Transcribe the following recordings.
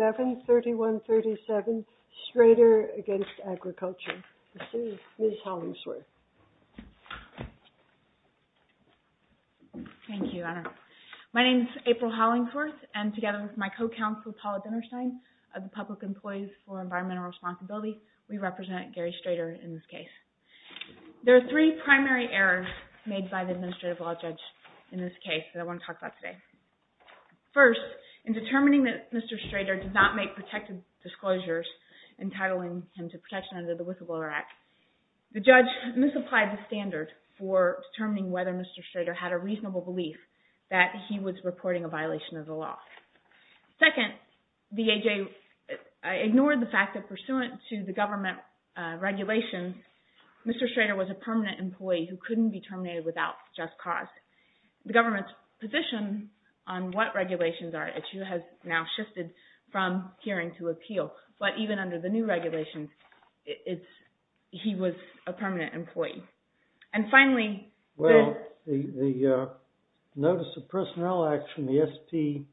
7-31-37 STRADER v. AGRICULTURE My name is April Hollingsworth and together with my co-counsel Paula Dinerstein of the Public Employees for Environmental Responsibility, we represent Gary Strader in this case. There are three primary errors made by the Administrative Law Judge in this case that I want to talk about today. First, in determining that Mr. Strader did not make protected disclosures entitling him to protection under the Whistleblower Act, the judge misapplied the standard for determining whether Mr. Strader had a reasonable belief that he was reporting a violation of the law. Second, the AJ ignored the fact that pursuant to the government regulations, Mr. Strader was a permanent employee who couldn't be terminated without just cause. The government's position on what regulations are at issue has now shifted from hearing to appeal. But even under the new regulations, he was a permanent employee. Well, the Notice of Personnel Action, the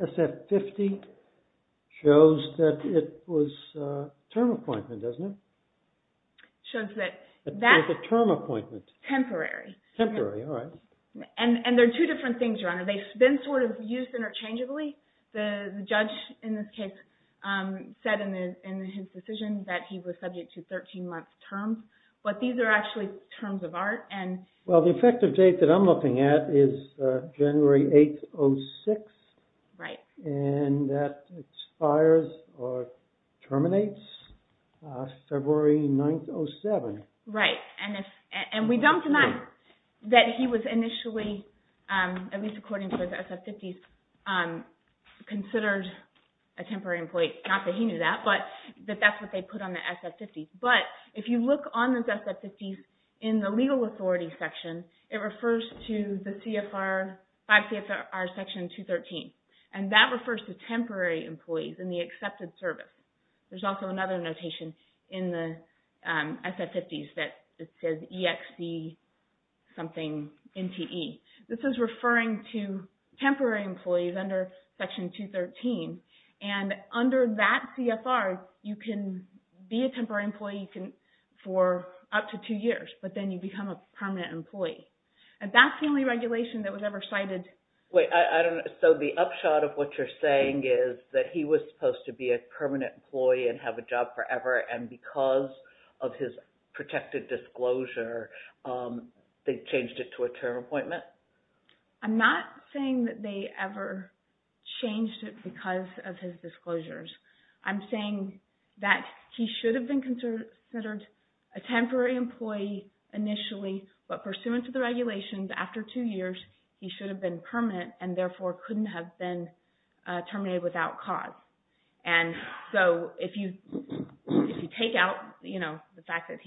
SF-50, shows that it was a term appointment, doesn't it? It shows that that's temporary. Temporary, all right. And there are two different things, Your Honor. They've been sort of used interchangeably. The judge in this case said in his decision that he was subject to 13-month terms. But these are actually terms of art. Well, the effective date that I'm looking at is January 8th, 06. Right. And that expires or terminates February 9th, 07. Right. And we don't deny that he was initially, at least according to his SF-50s, considered a temporary employee. Not that he knew that, but that that's what they put on the SF-50s. But if you look on those SF-50s in the legal authority section, it refers to the CFR, 5 CFR Section 213. And that refers to temporary employees in the accepted service. There's also another notation in the SF-50s that says EXC something NTE. This is referring to temporary employees under Section 213. And under that CFR, you can be a temporary employee for up to two years. But then you become a permanent employee. And that's the only regulation that was ever cited. So the upshot of what you're saying is that he was supposed to be a permanent employee and have a job forever. And because of his protected disclosure, they changed it to a term appointment? I'm not saying that they ever changed it because of his disclosures. I'm saying that he should have been considered a temporary employee initially. But pursuant to the regulations, after two years, he should have been permanent and therefore couldn't have been terminated without cause. And so if you take out the fact that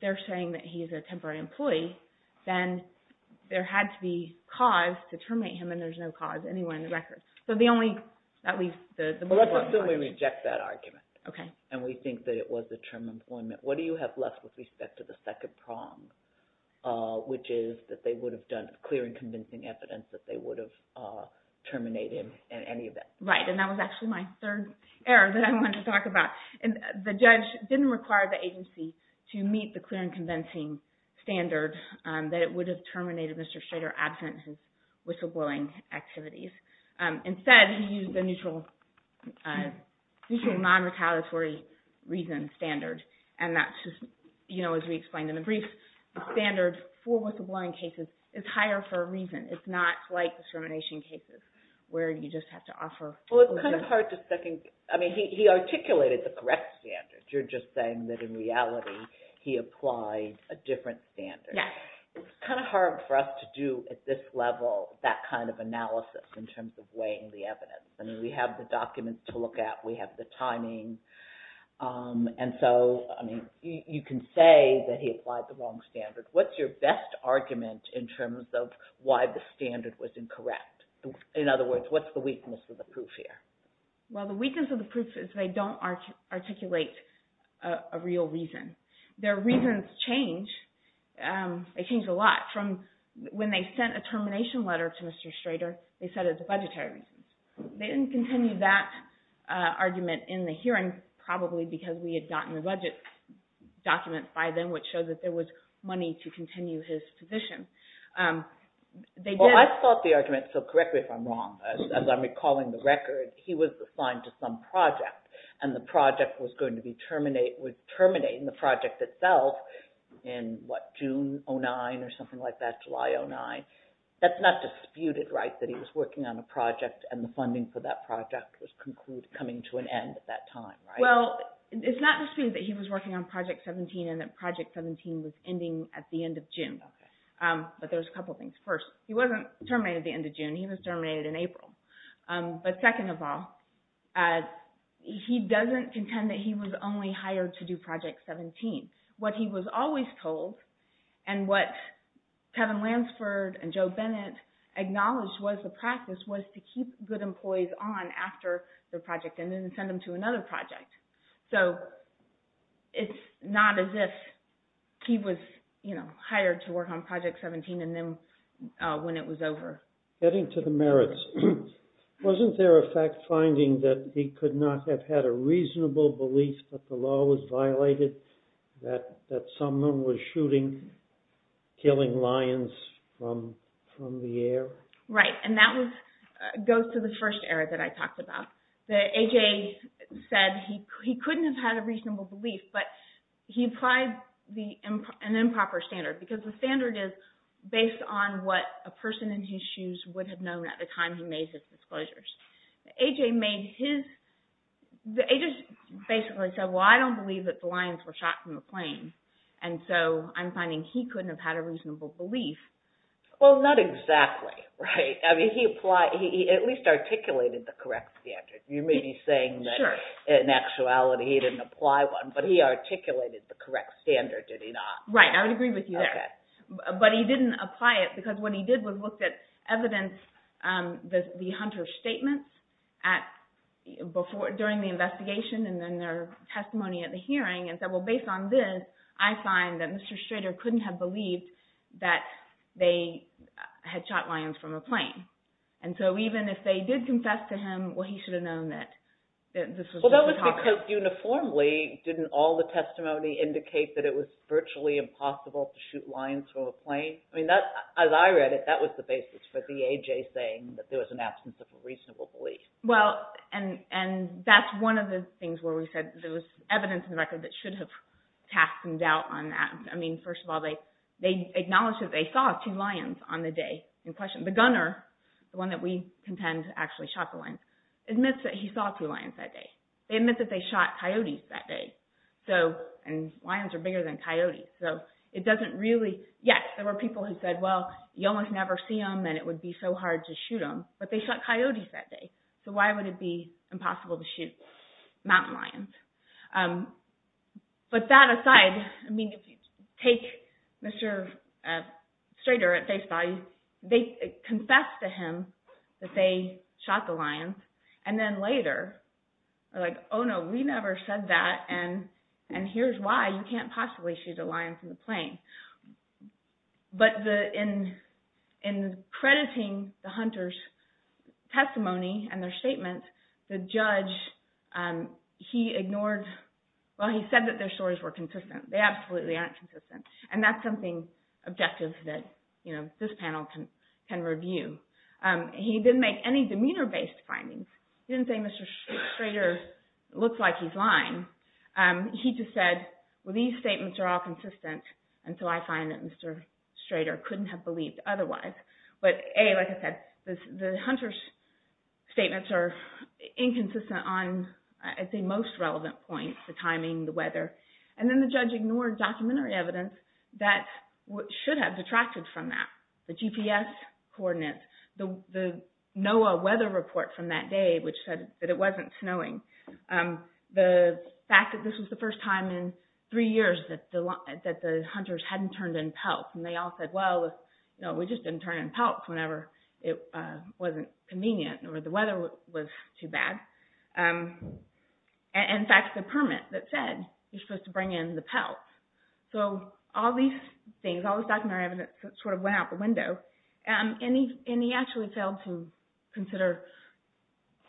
they're saying that he's a temporary employee, then there had to be cause to terminate him, and there's no cause anywhere in the record. So the only – at least the – Well, let's assume we reject that argument. Okay. And we think that it was a term appointment. What do you have left with respect to the second prong, which is that they would have done clear and convincing evidence that they would have terminated him in any event? Right, and that was actually my third error that I wanted to talk about. The judge didn't require the agency to meet the clear and convincing standard that it would have terminated Mr. Schrader absent of his whistleblowing activities. Instead, he used the neutral non-retaliatory reason standard. And that's just, you know, as we explained in the brief, the standard for whistleblowing cases is higher for a reason. It's not like discrimination cases where you just have to offer – Well, it's kind of hard to second – I mean, he articulated the correct standard. You're just saying that in reality he applied a different standard. Yes. It's kind of hard for us to do at this level that kind of analysis in terms of weighing the evidence. I mean, we have the documents to look at. We have the timing. And so, I mean, you can say that he applied the wrong standard. What's your best argument in terms of why the standard was incorrect? In other words, what's the weakness of the proof here? Well, the weakness of the proof is they don't articulate a real reason. Their reasons change. They change a lot from when they sent a termination letter to Mr. Schrader, they said it was a budgetary reason. They didn't continue that argument in the hearing probably because we had gotten the budget documents by them which showed that there was money to continue his position. Well, I thought the argument – so correct me if I'm wrong. As I'm recalling the record, he was assigned to some project, and the project was going to be terminating the project itself in, what, June 2009 or something like that, July 2009. That's not disputed, right, that he was working on a project, and the funding for that project was coming to an end at that time, right? Well, it's not disputed that he was working on Project 17 and that Project 17 was ending at the end of June. But there's a couple things. First, he wasn't terminated at the end of June. He was terminated in April. But second of all, he doesn't contend that he was only hired to do Project 17. What he was always told and what Kevin Lansford and Joe Bennett acknowledged was the practice was to keep good employees on after the project and then send them to another project. So it's not as if he was hired to work on Project 17 and then when it was over. Getting to the merits, wasn't there a fact-finding that he could not have had a reasonable belief that the law was violated? That someone was shooting, killing lions from the air? Right, and that goes to the first error that I talked about. That A.J. said he couldn't have had a reasonable belief, but he applied an improper standard. Because the standard is based on what a person in his shoes would have known at the time he made his disclosures. A.J. basically said, well, I don't believe that the lions were shot from the plane. And so I'm finding he couldn't have had a reasonable belief. Well, not exactly. He at least articulated the correct standard. You may be saying that in actuality he didn't apply one, but he articulated the correct standard, did he not? Right, I would agree with you there. But he didn't apply it because what he did was look at evidence, the Hunter statement, during the investigation and then their testimony at the hearing. And said, well, based on this, I find that Mr. Strader couldn't have believed that they had shot lions from a plane. And so even if they did confess to him, well, he should have known that this was a photographer. Because uniformly, didn't all the testimony indicate that it was virtually impossible to shoot lions from a plane? As I read it, that was the basis for the A.J. saying that there was an absence of a reasonable belief. Well, and that's one of the things where we said there was evidence in the record that should have cast some doubt on that. I mean, first of all, they acknowledged that they saw two lions on the day in question. The gunner, the one that we contend actually shot the lions, admits that he saw two lions that day. They admit that they shot coyotes that day. And lions are bigger than coyotes. So it doesn't really... Yes, there were people who said, well, you almost never see them and it would be so hard to shoot them. But they shot coyotes that day. So why would it be impossible to shoot mountain lions? But that aside, I mean, if you take Mr. Strader at face value, they confessed to him that they shot the lions. And then later, they're like, oh no, we never said that and here's why you can't possibly shoot a lion from a plane. But in crediting the hunters' testimony and their statements, the judge, he ignored... Well, he said that their stories were consistent. They absolutely aren't consistent. And that's something objective that this panel can review. He didn't make any demeanor-based findings. He didn't say Mr. Strader looks like he's lying. He just said, well, these statements are all consistent and so I find that Mr. Strader couldn't have believed otherwise. But A, like I said, the hunters' statements are inconsistent on, I'd say, most relevant points, the timing, the weather. And then the judge ignored documentary evidence that should have detracted from that. The GPS coordinates, the NOAA weather report from that day which said that it wasn't snowing. The fact that this was the first time in three years that the hunters hadn't turned in pelts. And they all said, well, we just didn't turn in pelts whenever it wasn't convenient or the weather was too bad. And in fact, the permit that said you're supposed to bring in the pelts. So all these things, all this documentary evidence sort of went out the window. And he actually failed to consider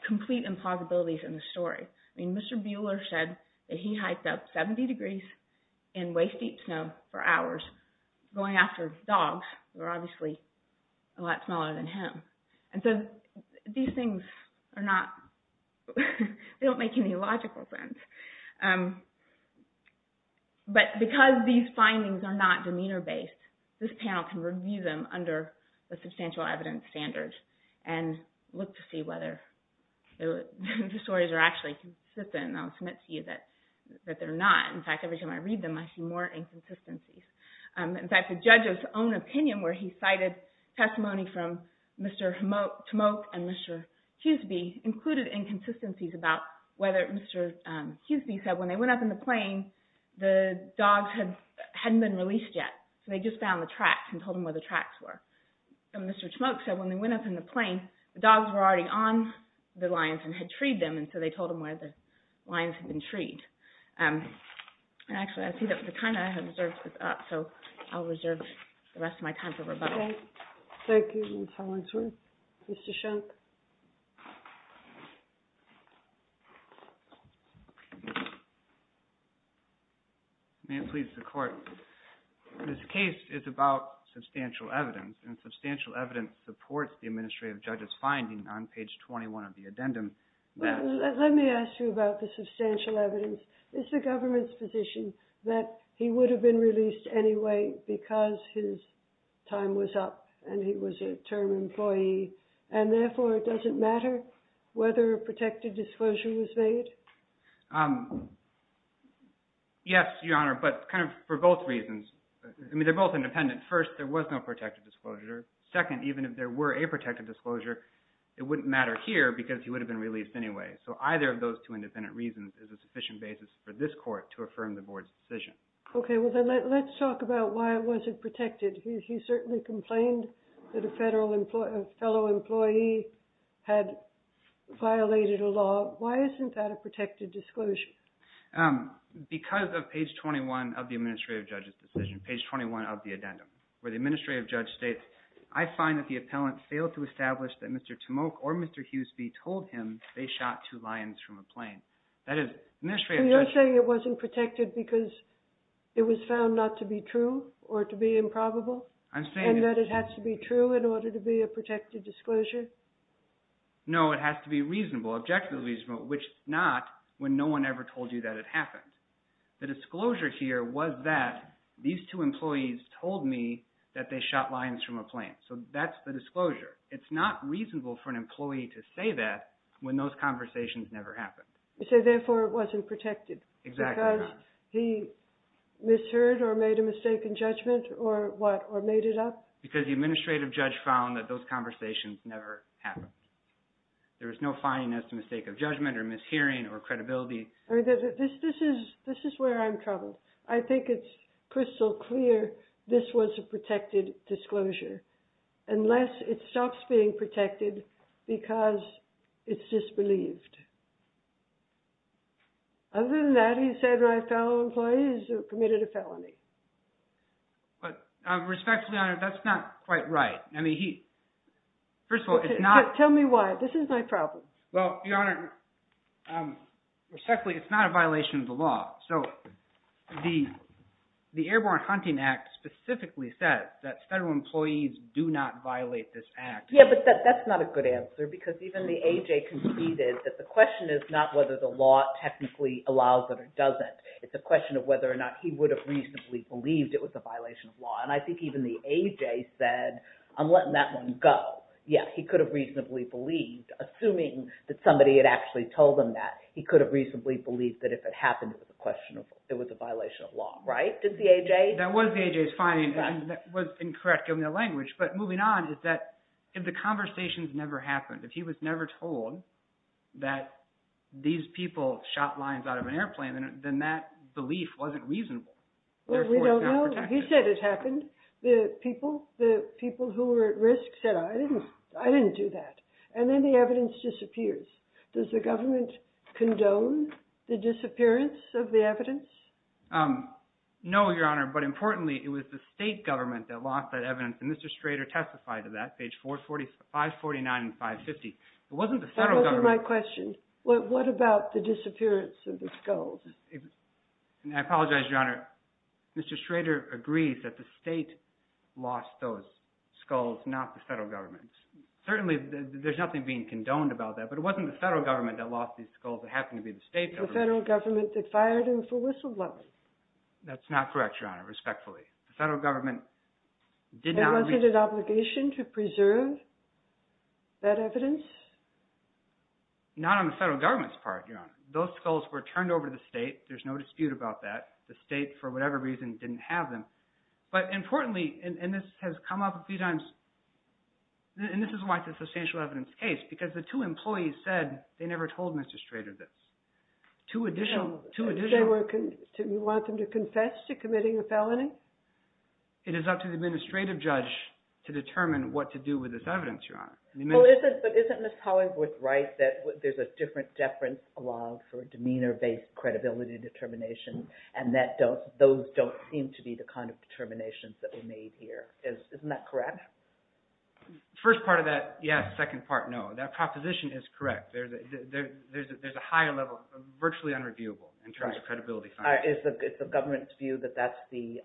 complete implausibilities in the story. I mean, Mr. Bueller said that he hiked up 70 degrees in waist-deep snow for hours going after dogs that were obviously a lot smaller than him. And so these things are not, they don't make any logical sense. But because these findings are not demeanor-based, this panel can review them under a substantial evidence standard and look to see whether the stories are actually consistent. And I'll admit to you that they're not. In fact, every time I read them, I see more inconsistencies. In fact, the judge's own opinion where he cited testimony from Mr. Tmok and Mr. Hughesby included inconsistencies about whether Mr. Hughesby said when they went up in the plain, the dogs hadn't been released yet. So they just found the tracks and told him where the tracks were. And Mr. Tmok said when they went up in the plain, the dogs were already on the lines and had treed them. And so they told him where the lines had been treed. And actually, I see that the time I have is up, so I'll reserve the rest of my time for rebuttal. Thank you, Ms. Hollingsworth. Mr. Shunk? May it please the Court, this case is about substantial evidence, and substantial evidence supports the administrative judge's finding on page 21 of the addendum that let me ask you about the substantial evidence. Is the government's position that he would have been released anyway because his time was up and he was a term employee? And therefore, does it matter whether a protected disclosure was made? Yes, Your Honor, but kind of for both reasons. I mean, they're both independent. First, there was no protected disclosure. Second, even if there were a protected disclosure, it wouldn't matter here because he would have been released anyway. So either of those two independent reasons is a sufficient basis for this Court to affirm the Board's decision. Okay, well then let's talk about why it wasn't protected. He certainly complained that a fellow employee had violated a law. Why isn't that a protected disclosure? Because of page 21 of the administrative judge's decision, page 21 of the addendum, where the administrative judge states, I find that the appellant failed to establish that Mr. Tomok or Mr. Hughesby told him they shot two lions from a plane. That is, administrative judge... So you're saying it wasn't protected because it was found not to be true or to be improbable? I'm saying... And that it has to be true in order to be a protected disclosure? No, it has to be reasonable, objectively reasonable, which not when no one ever told you that it happened. The disclosure here was that these two employees told me that they shot lions from a plane. So that's the disclosure. It's not reasonable for an employee to say that when those conversations never happened. So therefore it wasn't protected? Exactly. Because he misheard or made a mistake in judgment or what, or made it up? Because the administrative judge found that those conversations never happened. There was no finding that it was a mistake of judgment or mishearing or credibility. This is where I'm troubled. I think it's crystal clear this was a protected disclosure unless it stops being protected because it's disbelieved. Other than that, he said my fellow employees committed a felony. But respectfully, Your Honor, that's not quite right. I mean, he... First of all, it's not... Tell me why. This is my problem. Well, Your Honor, respectfully, it's not a violation of the law. So the Airborne Hunting Act specifically says that federal employees do not violate this act. Yeah, but that's not a good answer because even the A.J. conceded that the question is not whether the law technically allows it or doesn't. It's a question of whether or not he would have reasonably believed it was a violation of law. And I think even the A.J. said, I'm letting that one go. Yeah, he could have reasonably believed. Assuming that somebody had actually told him that, he could have reasonably believed that if it happened, it was a violation of law. Right, did the A.J.? That was the A.J.'s finding. And that was incorrect, given their language. But moving on is that if the conversations never happened, if he was never told that these people shot lions out of an airplane, then that belief wasn't reasonable. Well, we don't know. He said it happened. The people who were at risk said, I didn't do that. And then the evidence disappears. Does the government condone the disappearance of the evidence? No, Your Honor, but importantly, it was the state government that lost that evidence. And Mr. Schrader testified to that, page 549 and 550. It wasn't the federal government. That wasn't my question. What about the disappearance of the skulls? I apologize, Your Honor. Mr. Schrader agrees that the state lost those skulls, not the federal government. Certainly, there's nothing being condoned about that, but it wasn't the federal government that lost these skulls. It happened to be the state government. The federal government that fired him for whistleblowing. That's not correct, Your Honor, respectfully. The federal government did not… Was it an obligation to preserve that evidence? Not on the federal government's part, Your Honor. Those skulls were turned over to the state. There's no dispute about that. The state, for whatever reason, didn't have them. But importantly, and this has come up a few times, and this is why it's a substantial evidence case, because the two employees said they never told Mr. Schrader this. Do you want them to confess to committing a felony? It is up to the administrative judge to determine what to do with this evidence, Your Honor. But isn't Ms. Pollard right that there's a different deference along for a demeanor-based credibility determination, and that those don't seem to be the kind of determinations that were made here? Isn't that correct? The first part of that, yes. The second part, no. That proposition is correct. There's a higher level, virtually unreviewable, in terms of credibility findings. Is the government's view that that's the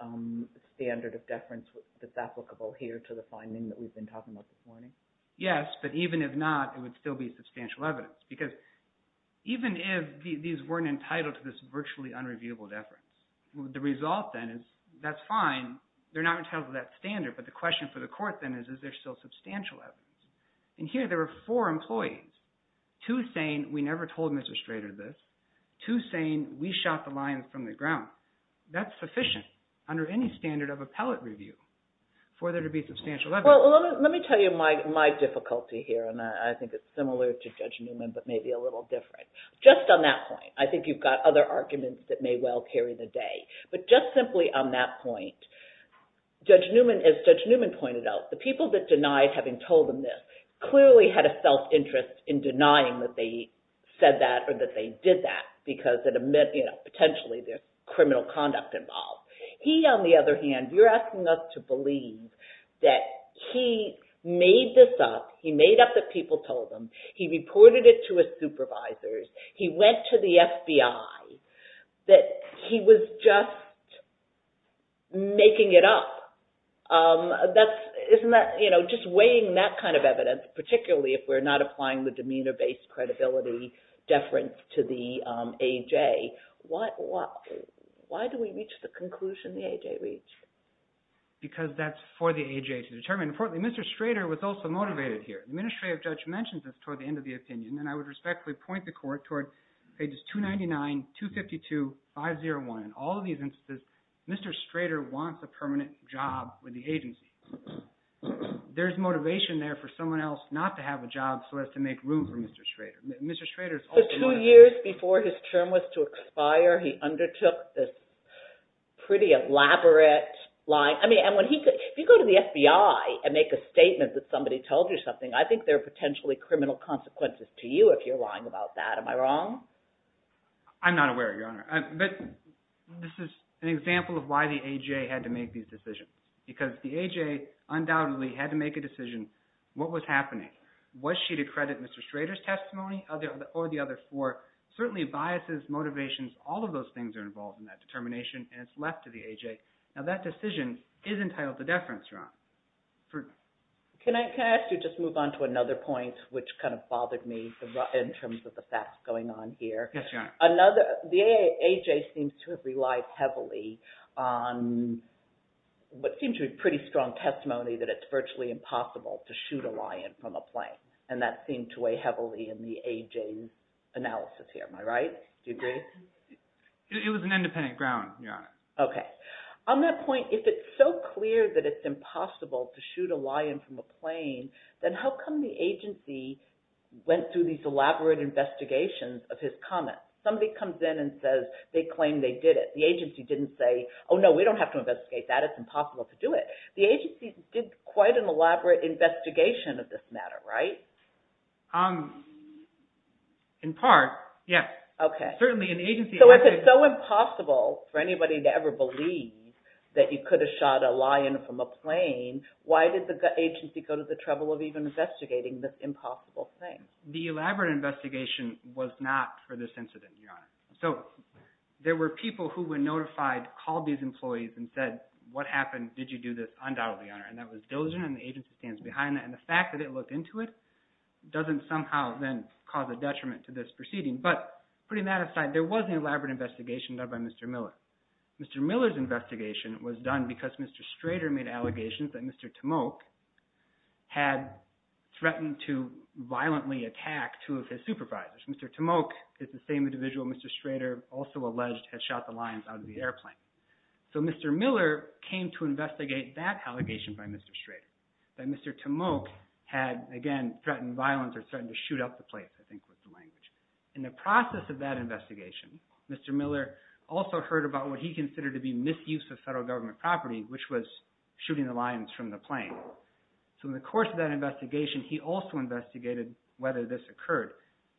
standard of deference that's applicable here to the finding that we've been talking about this morning? Yes, but even if not, it would still be substantial evidence, because even if these weren't entitled to this virtually unreviewable deference, the result then is that's fine. They're not entitled to that standard, but the question for the court then is, is there still substantial evidence? And here there were four employees, two saying we never told Mr. Schrader this, two saying we shot the lion from the ground. That's sufficient under any standard of appellate review for there to be substantial evidence. Well, let me tell you my difficulty here, and I think it's similar to Judge Newman, but maybe a little different. Just on that point, I think you've got other arguments that may well carry the day, but just simply on that point, as Judge Newman pointed out, the people that denied having told them this clearly had a self-interest in denying that they said that or that they did that, because potentially there's criminal conduct involved. He, on the other hand, you're asking us to believe that he made this up. He made up that people told him. He reported it to his supervisors. He went to the FBI, that he was just making it up. Just weighing that kind of evidence, particularly if we're not applying the demeanor-based credibility deference to the AJ, why do we reach the conclusion the AJ reached? Because that's for the AJ to determine. Importantly, Mr. Schrader was also motivated here. The administrative judge mentioned this toward the end of the opinion, and I would respectfully point the court toward pages 299, 252, 501. In all of these instances, Mr. Schrader wants a permanent job with the agency. There's motivation there for someone else not to have a job so as to make room for Mr. Schrader. So two years before his term was to expire, he undertook this pretty elaborate lying. I mean, if you go to the FBI and make a statement that somebody told you something, I think there are potentially criminal consequences to you if you're lying about that. Am I wrong? I'm not aware, Your Honor. But this is an example of why the AJ had to make these decisions, because the AJ undoubtedly had to make a decision. What was happening? Was she to credit Mr. Schrader's testimony or the other four? Certainly biases, motivations, all of those things are involved in that determination, and it's left to the AJ. Now, that decision is entitled to deference, Your Honor. Can I ask you to just move on to another point, which kind of bothered me in terms of the facts going on here? Yes, Your Honor. The AJ seems to have relied heavily on what seems to be a pretty strong testimony that it's virtually impossible to shoot a lion from a plane, and that seemed to weigh heavily in the AJ's analysis here. Am I right? Do you agree? It was an independent ground, Your Honor. Okay. On that point, if it's so clear that it's impossible to shoot a lion from a plane, then how come the agency went through these elaborate investigations of his comments? Somebody comes in and says they claim they did it. The agency didn't say, oh, no, we don't have to investigate that. It's impossible to do it. The agency did quite an elaborate investigation of this matter, right? In part, yes. Okay. Certainly an agency… So if it's so impossible for anybody to ever believe that you could have shot a lion from a plane, why did the agency go to the trouble of even investigating this impossible thing? The elaborate investigation was not for this incident, Your Honor. So there were people who, when notified, called these employees and said, what happened? Did you do this? Undoubtedly, Your Honor. And that was diligent, and the agency stands behind that. And the fact that it looked into it doesn't somehow then cause a detriment to this proceeding. But putting that aside, there was an elaborate investigation done by Mr. Miller. Mr. Miller's investigation was done because Mr. Strader made allegations that Mr. Tomok had threatened to violently attack two of his supervisors. Mr. Tomok is the same individual Mr. Strader also alleged had shot the lions out of the airplane. So Mr. Miller came to investigate that allegation by Mr. Strader, that Mr. Tomok had, again, threatened violence or threatened to shoot up the place, I think was the language. In the process of that investigation, Mr. Miller also heard about what he considered to be misuse of federal government property, which was shooting the lions from the plane. So in the course of that investigation, he also investigated whether this occurred.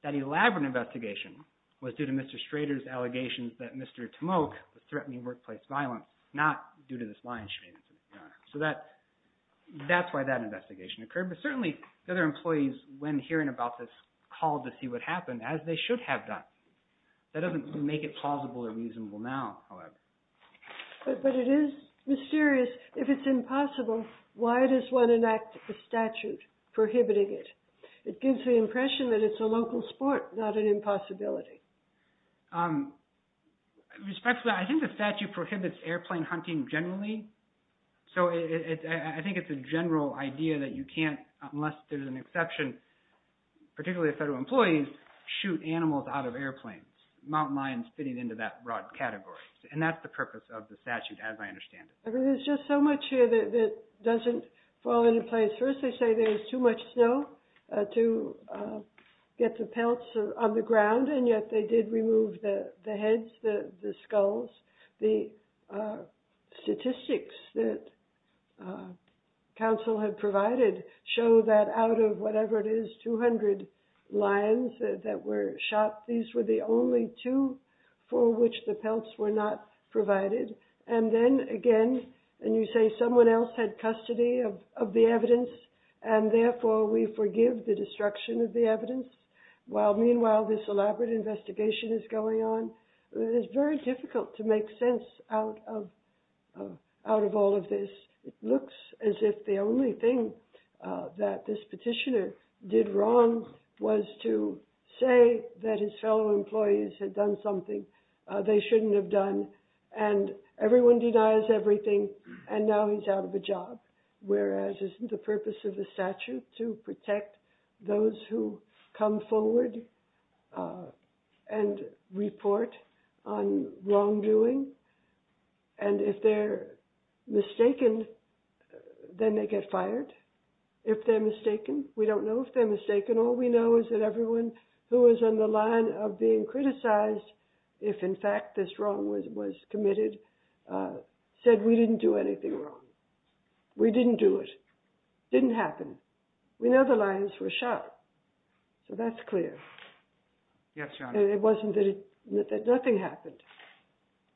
That elaborate investigation was due to Mr. Strader's allegations that Mr. Tomok was threatening workplace violence, not due to this lion shooting, Your Honor. So that's why that investigation occurred. But certainly the other employees, when hearing about this, called to see what happened, as they should have done. That doesn't make it plausible or reasonable now, however. But it is mysterious. If it's impossible, why does one enact a statute prohibiting it? It gives the impression that it's a local sport, not an impossibility. Respectfully, I think the statute prohibits airplane hunting generally. So I think it's a general idea that you can't, unless there's an exception, particularly if federal employees shoot animals out of airplanes, mountain lions fitting into that broad category. And that's the purpose of the statute, as I understand it. There's just so much here that doesn't fall into place. First, they say there's too much snow to get the pelts on the ground, and yet they did remove the heads, the skulls. The statistics that counsel had provided show that out of whatever it is, 200 lions that were shot, these were the only two for which the pelts were not provided. And then again, and you say someone else had custody of the evidence, and therefore we forgive the destruction of the evidence. Meanwhile, this elaborate investigation is going on. It is very difficult to make sense out of all of this. It looks as if the only thing that this petitioner did wrong was to say that his fellow employees had done something they shouldn't have done. And everyone denies everything, and now he's out of a job. Whereas, isn't the purpose of the statute to protect those who come forward and report on wrongdoing? And if they're mistaken, then they get fired. If they're mistaken, we don't know if they're mistaken. All we know is that everyone who was on the line of being criticized, if in fact this wrong was committed, said we didn't do anything wrong. We didn't do it. It didn't happen. We know the lions were shot, so that's clear. Yes, Your Honor. It wasn't that nothing happened.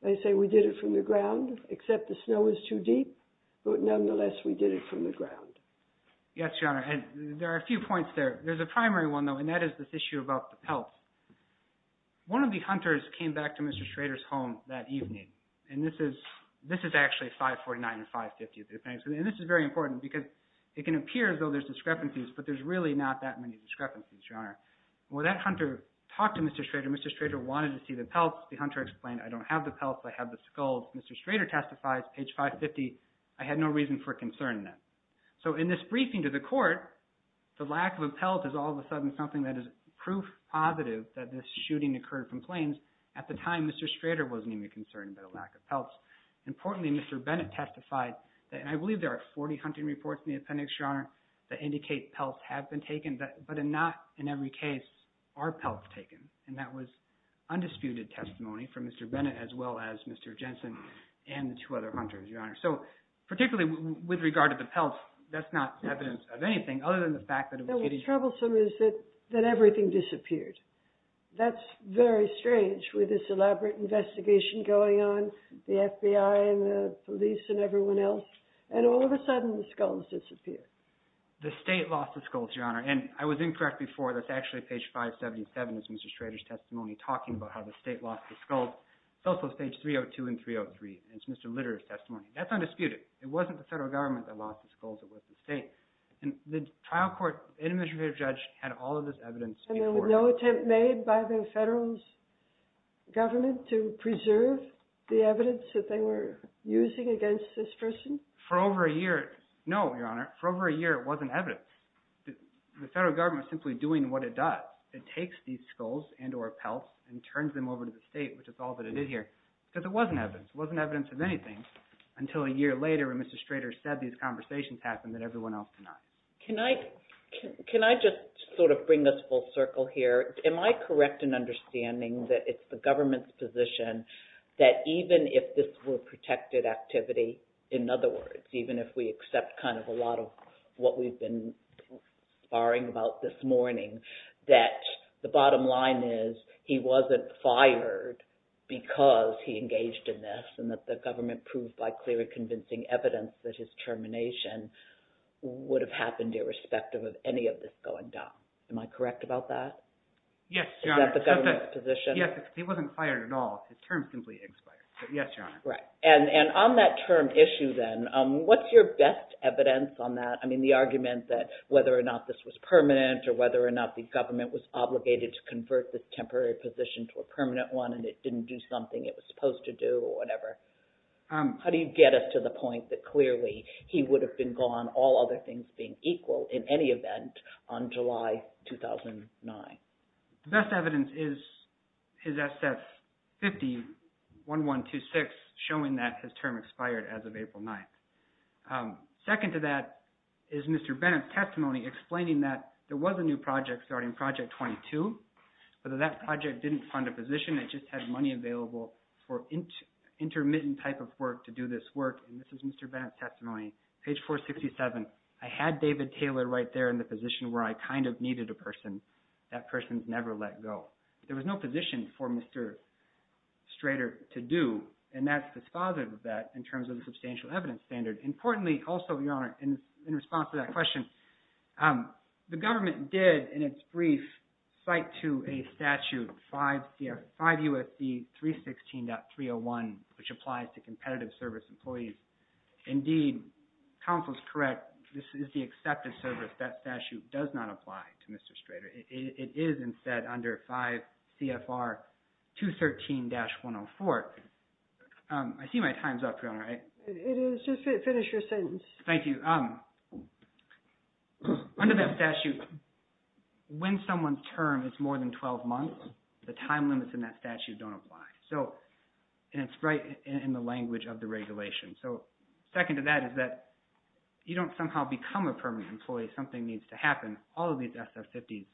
They say we did it from the ground, except the snow was too deep. But nonetheless, we did it from the ground. Yes, Your Honor. And there are a few points there. There's a primary one, though, and that is this issue about the pelts. One of the hunters came back to Mr. Schrader's home that evening, and this is actually 549 and 550. And this is very important because it can appear as though there's discrepancies, but there's really not that many discrepancies, Your Honor. Well, that hunter talked to Mr. Schrader. Mr. Schrader wanted to see the pelts. The hunter explained, I don't have the pelts. I have the skulls. Mr. Schrader testifies, page 550, I had no reason for concern then. So in this briefing to the court, the lack of a pelt is all of a sudden something that is proof positive that this shooting occurred from planes. At the time, Mr. Schrader wasn't even concerned about a lack of pelts. Importantly, Mr. Bennett testified, and I believe there are 40 hunting reports in the appendix, Your Honor, that indicate pelts have been taken, but not in every case are pelts taken. And that was undisputed testimony from Mr. Bennett as well as Mr. Jensen and the two other hunters, Your Honor. So particularly with regard to the pelts, that's not evidence of anything other than the fact that it was a shooting. But what's troublesome is that everything disappeared. That's very strange with this elaborate investigation going on, the FBI and the police and everyone else, and all of a sudden the skulls disappeared. The state lost the skulls, Your Honor, and I was incorrect before. That's actually page 577 is Mr. Schrader's testimony talking about how the state lost the skulls. It's also page 302 and 303. It's Mr. Litterer's testimony. That's undisputed. It wasn't the federal government that lost the skulls. It was the state. And the trial court, the individual judge had all of this evidence before him. And there was no attempt made by the federal government to preserve the evidence that they were using against this person? For over a year, no, Your Honor. For over a year, it wasn't evidence. The federal government is simply doing what it does. It takes these skulls and or pelts and turns them over to the state, which is all that it did here, because it wasn't evidence. It wasn't evidence of anything until a year later when Mr. Schrader said these conversations happened that everyone else did not. Can I just sort of bring this full circle here? Am I correct in understanding that it's the government's position that even if this were protected activity, in other words, even if we accept kind of a lot of what we've been barring about this morning, that the bottom line is he wasn't fired because he engaged in this and that the government proved by clear and convincing evidence that his termination would have happened irrespective of any of this going down? Am I correct about that? Yes, Your Honor. Is that the government's position? Yes. He wasn't fired at all. His term simply expired. Yes, Your Honor. Right. And on that term issue then, what's your best evidence on that? I mean, the argument that whether or not this was permanent or whether or not the government was obligated to convert this temporary position to a permanent one and it didn't do something it was supposed to do or whatever. How do you get us to the point that clearly he would have been gone, all other things being equal, in any event, on July 2009? The best evidence is SS50-1126 showing that his term expired as of April 9th. Second to that is Mr. Bennett's testimony explaining that there was a new project starting, Project 22. But that project didn't fund a position. It just had money available for intermittent type of work to do this work. And this is Mr. Bennett's testimony. Page 467. I had David Taylor right there in the position where I kind of needed a person. That person's never let go. There was no position for Mr. Strader to do, and that's dispositive of that in terms of the substantial evidence standard. Importantly, also, Your Honor, in response to that question, the government did in its brief cite to a statute 5 U.S.C. 316.301, which applies to competitive service employees. Indeed, counsel is correct. This is the accepted service. That statute does not apply to Mr. Strader. It is instead under 5 CFR 213-104. I see my time's up, Your Honor. It is. Just finish your sentence. Thank you. Under that statute, when someone's term is more than 12 months, the time limits in that statute don't apply. And it's right in the language of the regulation. So second to that is that you don't somehow become a permanent employee. Something needs to happen. All of these SF50s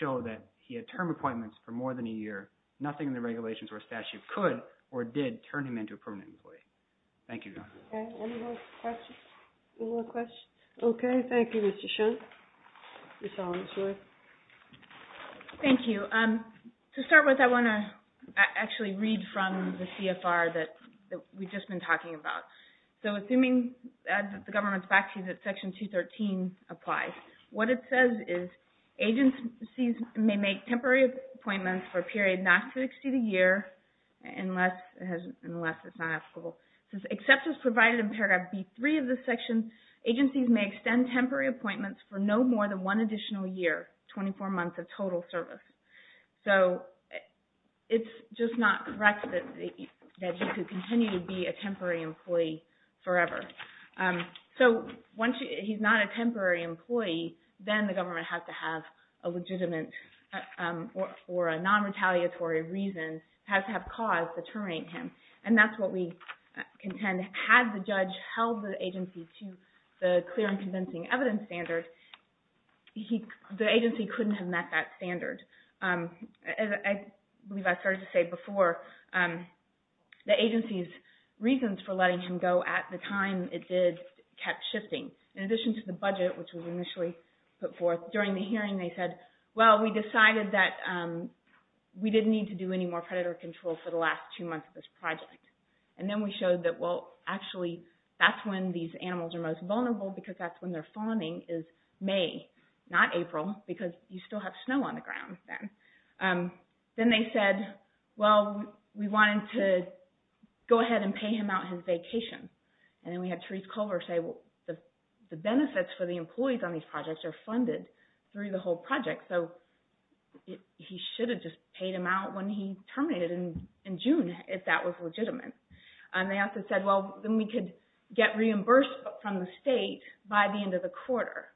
show that he had term appointments for more than a year. Nothing in the regulations or statute could or did turn him into a permanent employee. Thank you, Your Honor. Any more questions? Okay, thank you, Mr. Schoen. Ms. Hollins-Joy. Thank you. To start with, I want to actually read from the CFR that we've just been talking about. So assuming, as the government's backseat, that Section 213 applies, what it says is, agencies may make temporary appointments for a period not to exceed a year unless it's not applicable. Since acceptance provided in Paragraph B-3 of this section, agencies may extend temporary appointments for no more than one additional year, 24 months of total service. So it's just not correct that he could continue to be a temporary employee forever. So once he's not a temporary employee, then the government has to have a legitimate or a non-retaliatory reason, has to have cause deterring him. And that's what we contend. Had the judge held the agency to the clear and convincing evidence standard, the agency couldn't have met that standard. As I believe I started to say before, the agency's reasons for letting him go at the time it did kept shifting. In addition to the budget, which was initially put forth, during the hearing they said, well, we decided that we didn't need to do any more predator control for the last two months of this project. And then we showed that, well, actually, that's when these animals are most vulnerable, because that's when they're fawning is May, not April, because you still have snow on the ground then. Then they said, well, we wanted to go ahead and pay him out his vacation. And then we had Therese Culver say, well, the benefits for the employees on these projects are funded through the whole project. So he should have just paid him out when he terminated in June, if that was legitimate. And they also said, well, then we could get reimbursed from the state by the end of the quarter.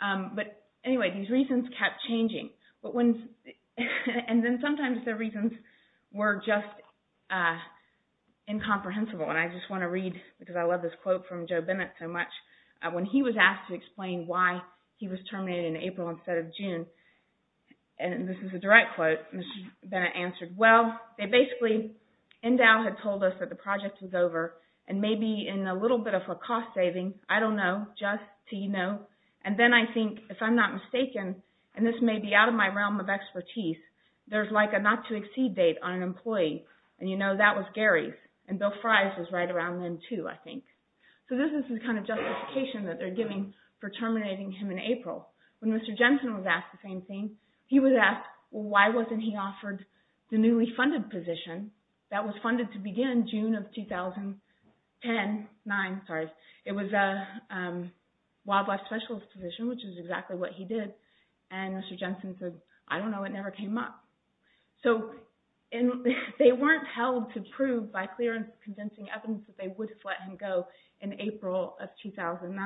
But anyway, these reasons kept changing. And then sometimes the reasons were just incomprehensible. And I just want to read, because I love this quote from Joe Bennett so much. When he was asked to explain why he was terminated in April instead of June, and this is a direct quote, Mr. Bennett answered, well, they basically, Endow had told us that the project was over, and maybe in a little bit of a cost saving, I don't know, just so you know. And then I think, if I'm not mistaken, and this may be out of my realm of expertise, there's like a not-to-exceed date on an employee. And you know, that was Gary's. And Bill Fry's was right around then, too, I think. So this is the kind of justification that they're giving for terminating him in April. When Mr. Jensen was asked the same thing, he was asked, well, why wasn't he offered the newly funded position that was funded to begin June of 2010, it was a wildlife specialist position, which is exactly what he did. And Mr. Jensen said, I don't know, it never came up. So they weren't held to prove by clear and convincing evidence that they would let him go in April of 2009.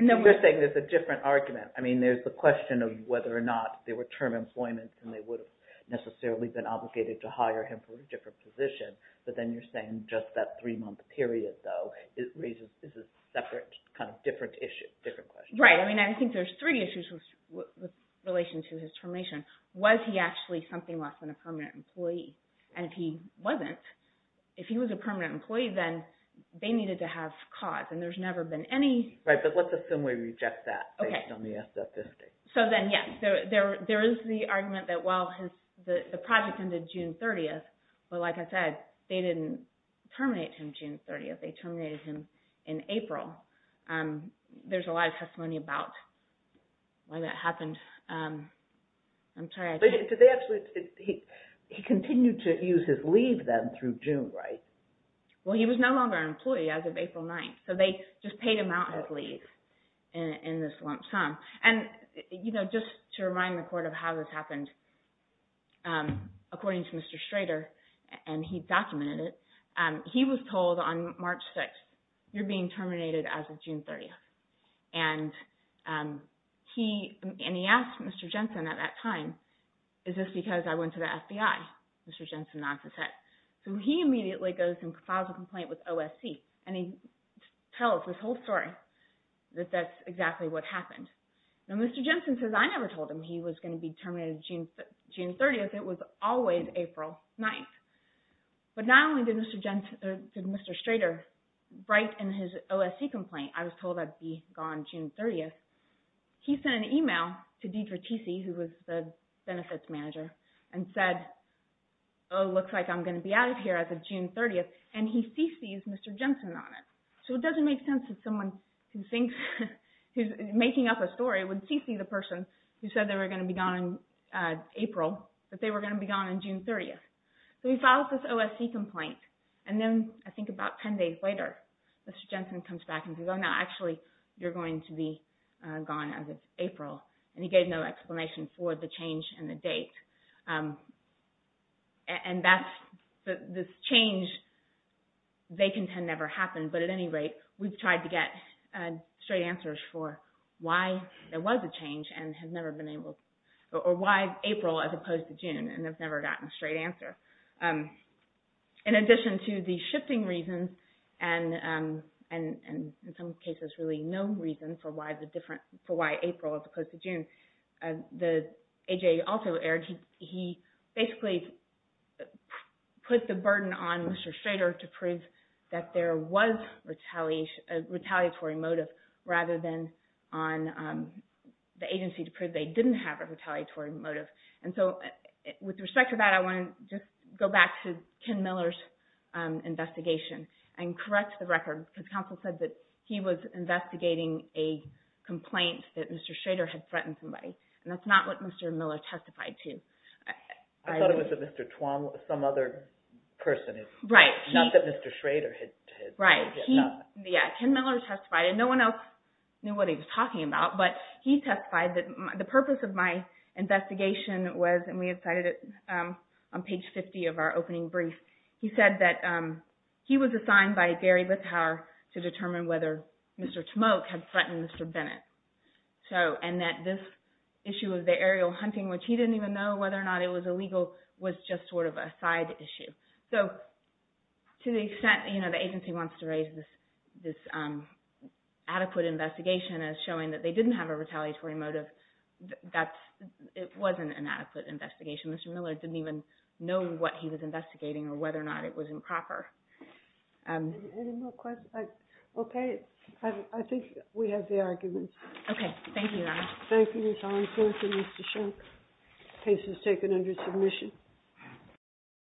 You're saying there's a different argument. I mean, there's the question of whether or not there were term employments and they would have necessarily been obligated to hire him for a different position. But then you're saying just that three-month period, though, is a separate kind of different issue, different question. Right, I mean, I think there's three issues with relation to his termination. Was he actually something less than a permanent employee? And if he wasn't, if he was a permanent employee, then they needed to have cause. And there's never been any... Right, but let's assume we reject that based on the statistics. So then, yes, there is the argument that, well, the project ended June 30th, but like I said, they didn't terminate him June 30th, they terminated him in April. There's a lot of testimony about why that happened. I'm sorry, I can't... But they actually, he continued to use his leave then through June, right? Well, he was no longer an employee as of April 9th. So they just paid him out his leave in this lump sum. And just to remind the court of how this happened, according to Mr. Schrader, and he documented it, he was told on March 6th, you're being terminated as of June 30th. And he asked Mr. Jensen at that time, is this because I went to the FBI? Mr. Jensen nods his head. So he immediately goes and files a complaint with OSC, and he tells this whole story that that's exactly what happened. Now Mr. Jensen says, I never told him he was going to be terminated June 30th, it was always April 9th. But not only did Mr. Schrader write in his OSC complaint, I was told that he'd gone June 30th, he sent an email to Deidre Teesey, who was the benefits manager, and said, oh, looks like I'm going to be out of here as of June 30th, and he CC's Mr. Jensen on it. So it doesn't make sense that someone who thinks, who's making up a story, would CC the person who said they were going to be gone in April, that they were going to be gone on June 30th. So he files this OSC complaint, and then I think about ten days later, Mr. Jensen comes back and says, oh no, actually, you're going to be gone as of April, and he gave no explanation for the change in the date. And this change, they contend, never happened, but at any rate, we've tried to get straight answers for why there was a change, or why April as opposed to June, and we've never gotten a straight answer. In addition to the shifting reasons, and in some cases, really no reason for why April as opposed to June, the AJA also aired, he basically put the burden on Mr. Schrader to prove that there was retaliatory motive, rather than on the agency to prove they didn't have a retaliatory motive. And so with respect to that, I want to just go back to Ken Miller's investigation, and correct the record, because counsel said that he was investigating a complaint that Mr. Schrader had threatened somebody, and that's not what Mr. Miller testified to. I thought it was that Mr. Twum, some other person, not that Mr. Schrader had... Ken Miller testified, and no one else knew what he was talking about, but he testified that the purpose of my investigation was, and we cited it on page 50 of our opening brief, he said that he was assigned by Gary Bithauer to determine whether Mr. Twum had threatened Mr. Bennett. And that this issue of the aerial hunting, which he didn't even know whether or not it was illegal, was just sort of a side issue. So to the extent, you know, the agency wants to raise this adequate investigation as showing that they didn't have a retaliatory motive, it wasn't an adequate investigation. Mr. Miller didn't even know what he was investigating or whether or not it was improper. Any more questions? Okay. I think we have the arguments. Okay. Thank you, Your Honor. Thank you, Ms. Armstrong for Mr. Schrader's case that was taken under submission.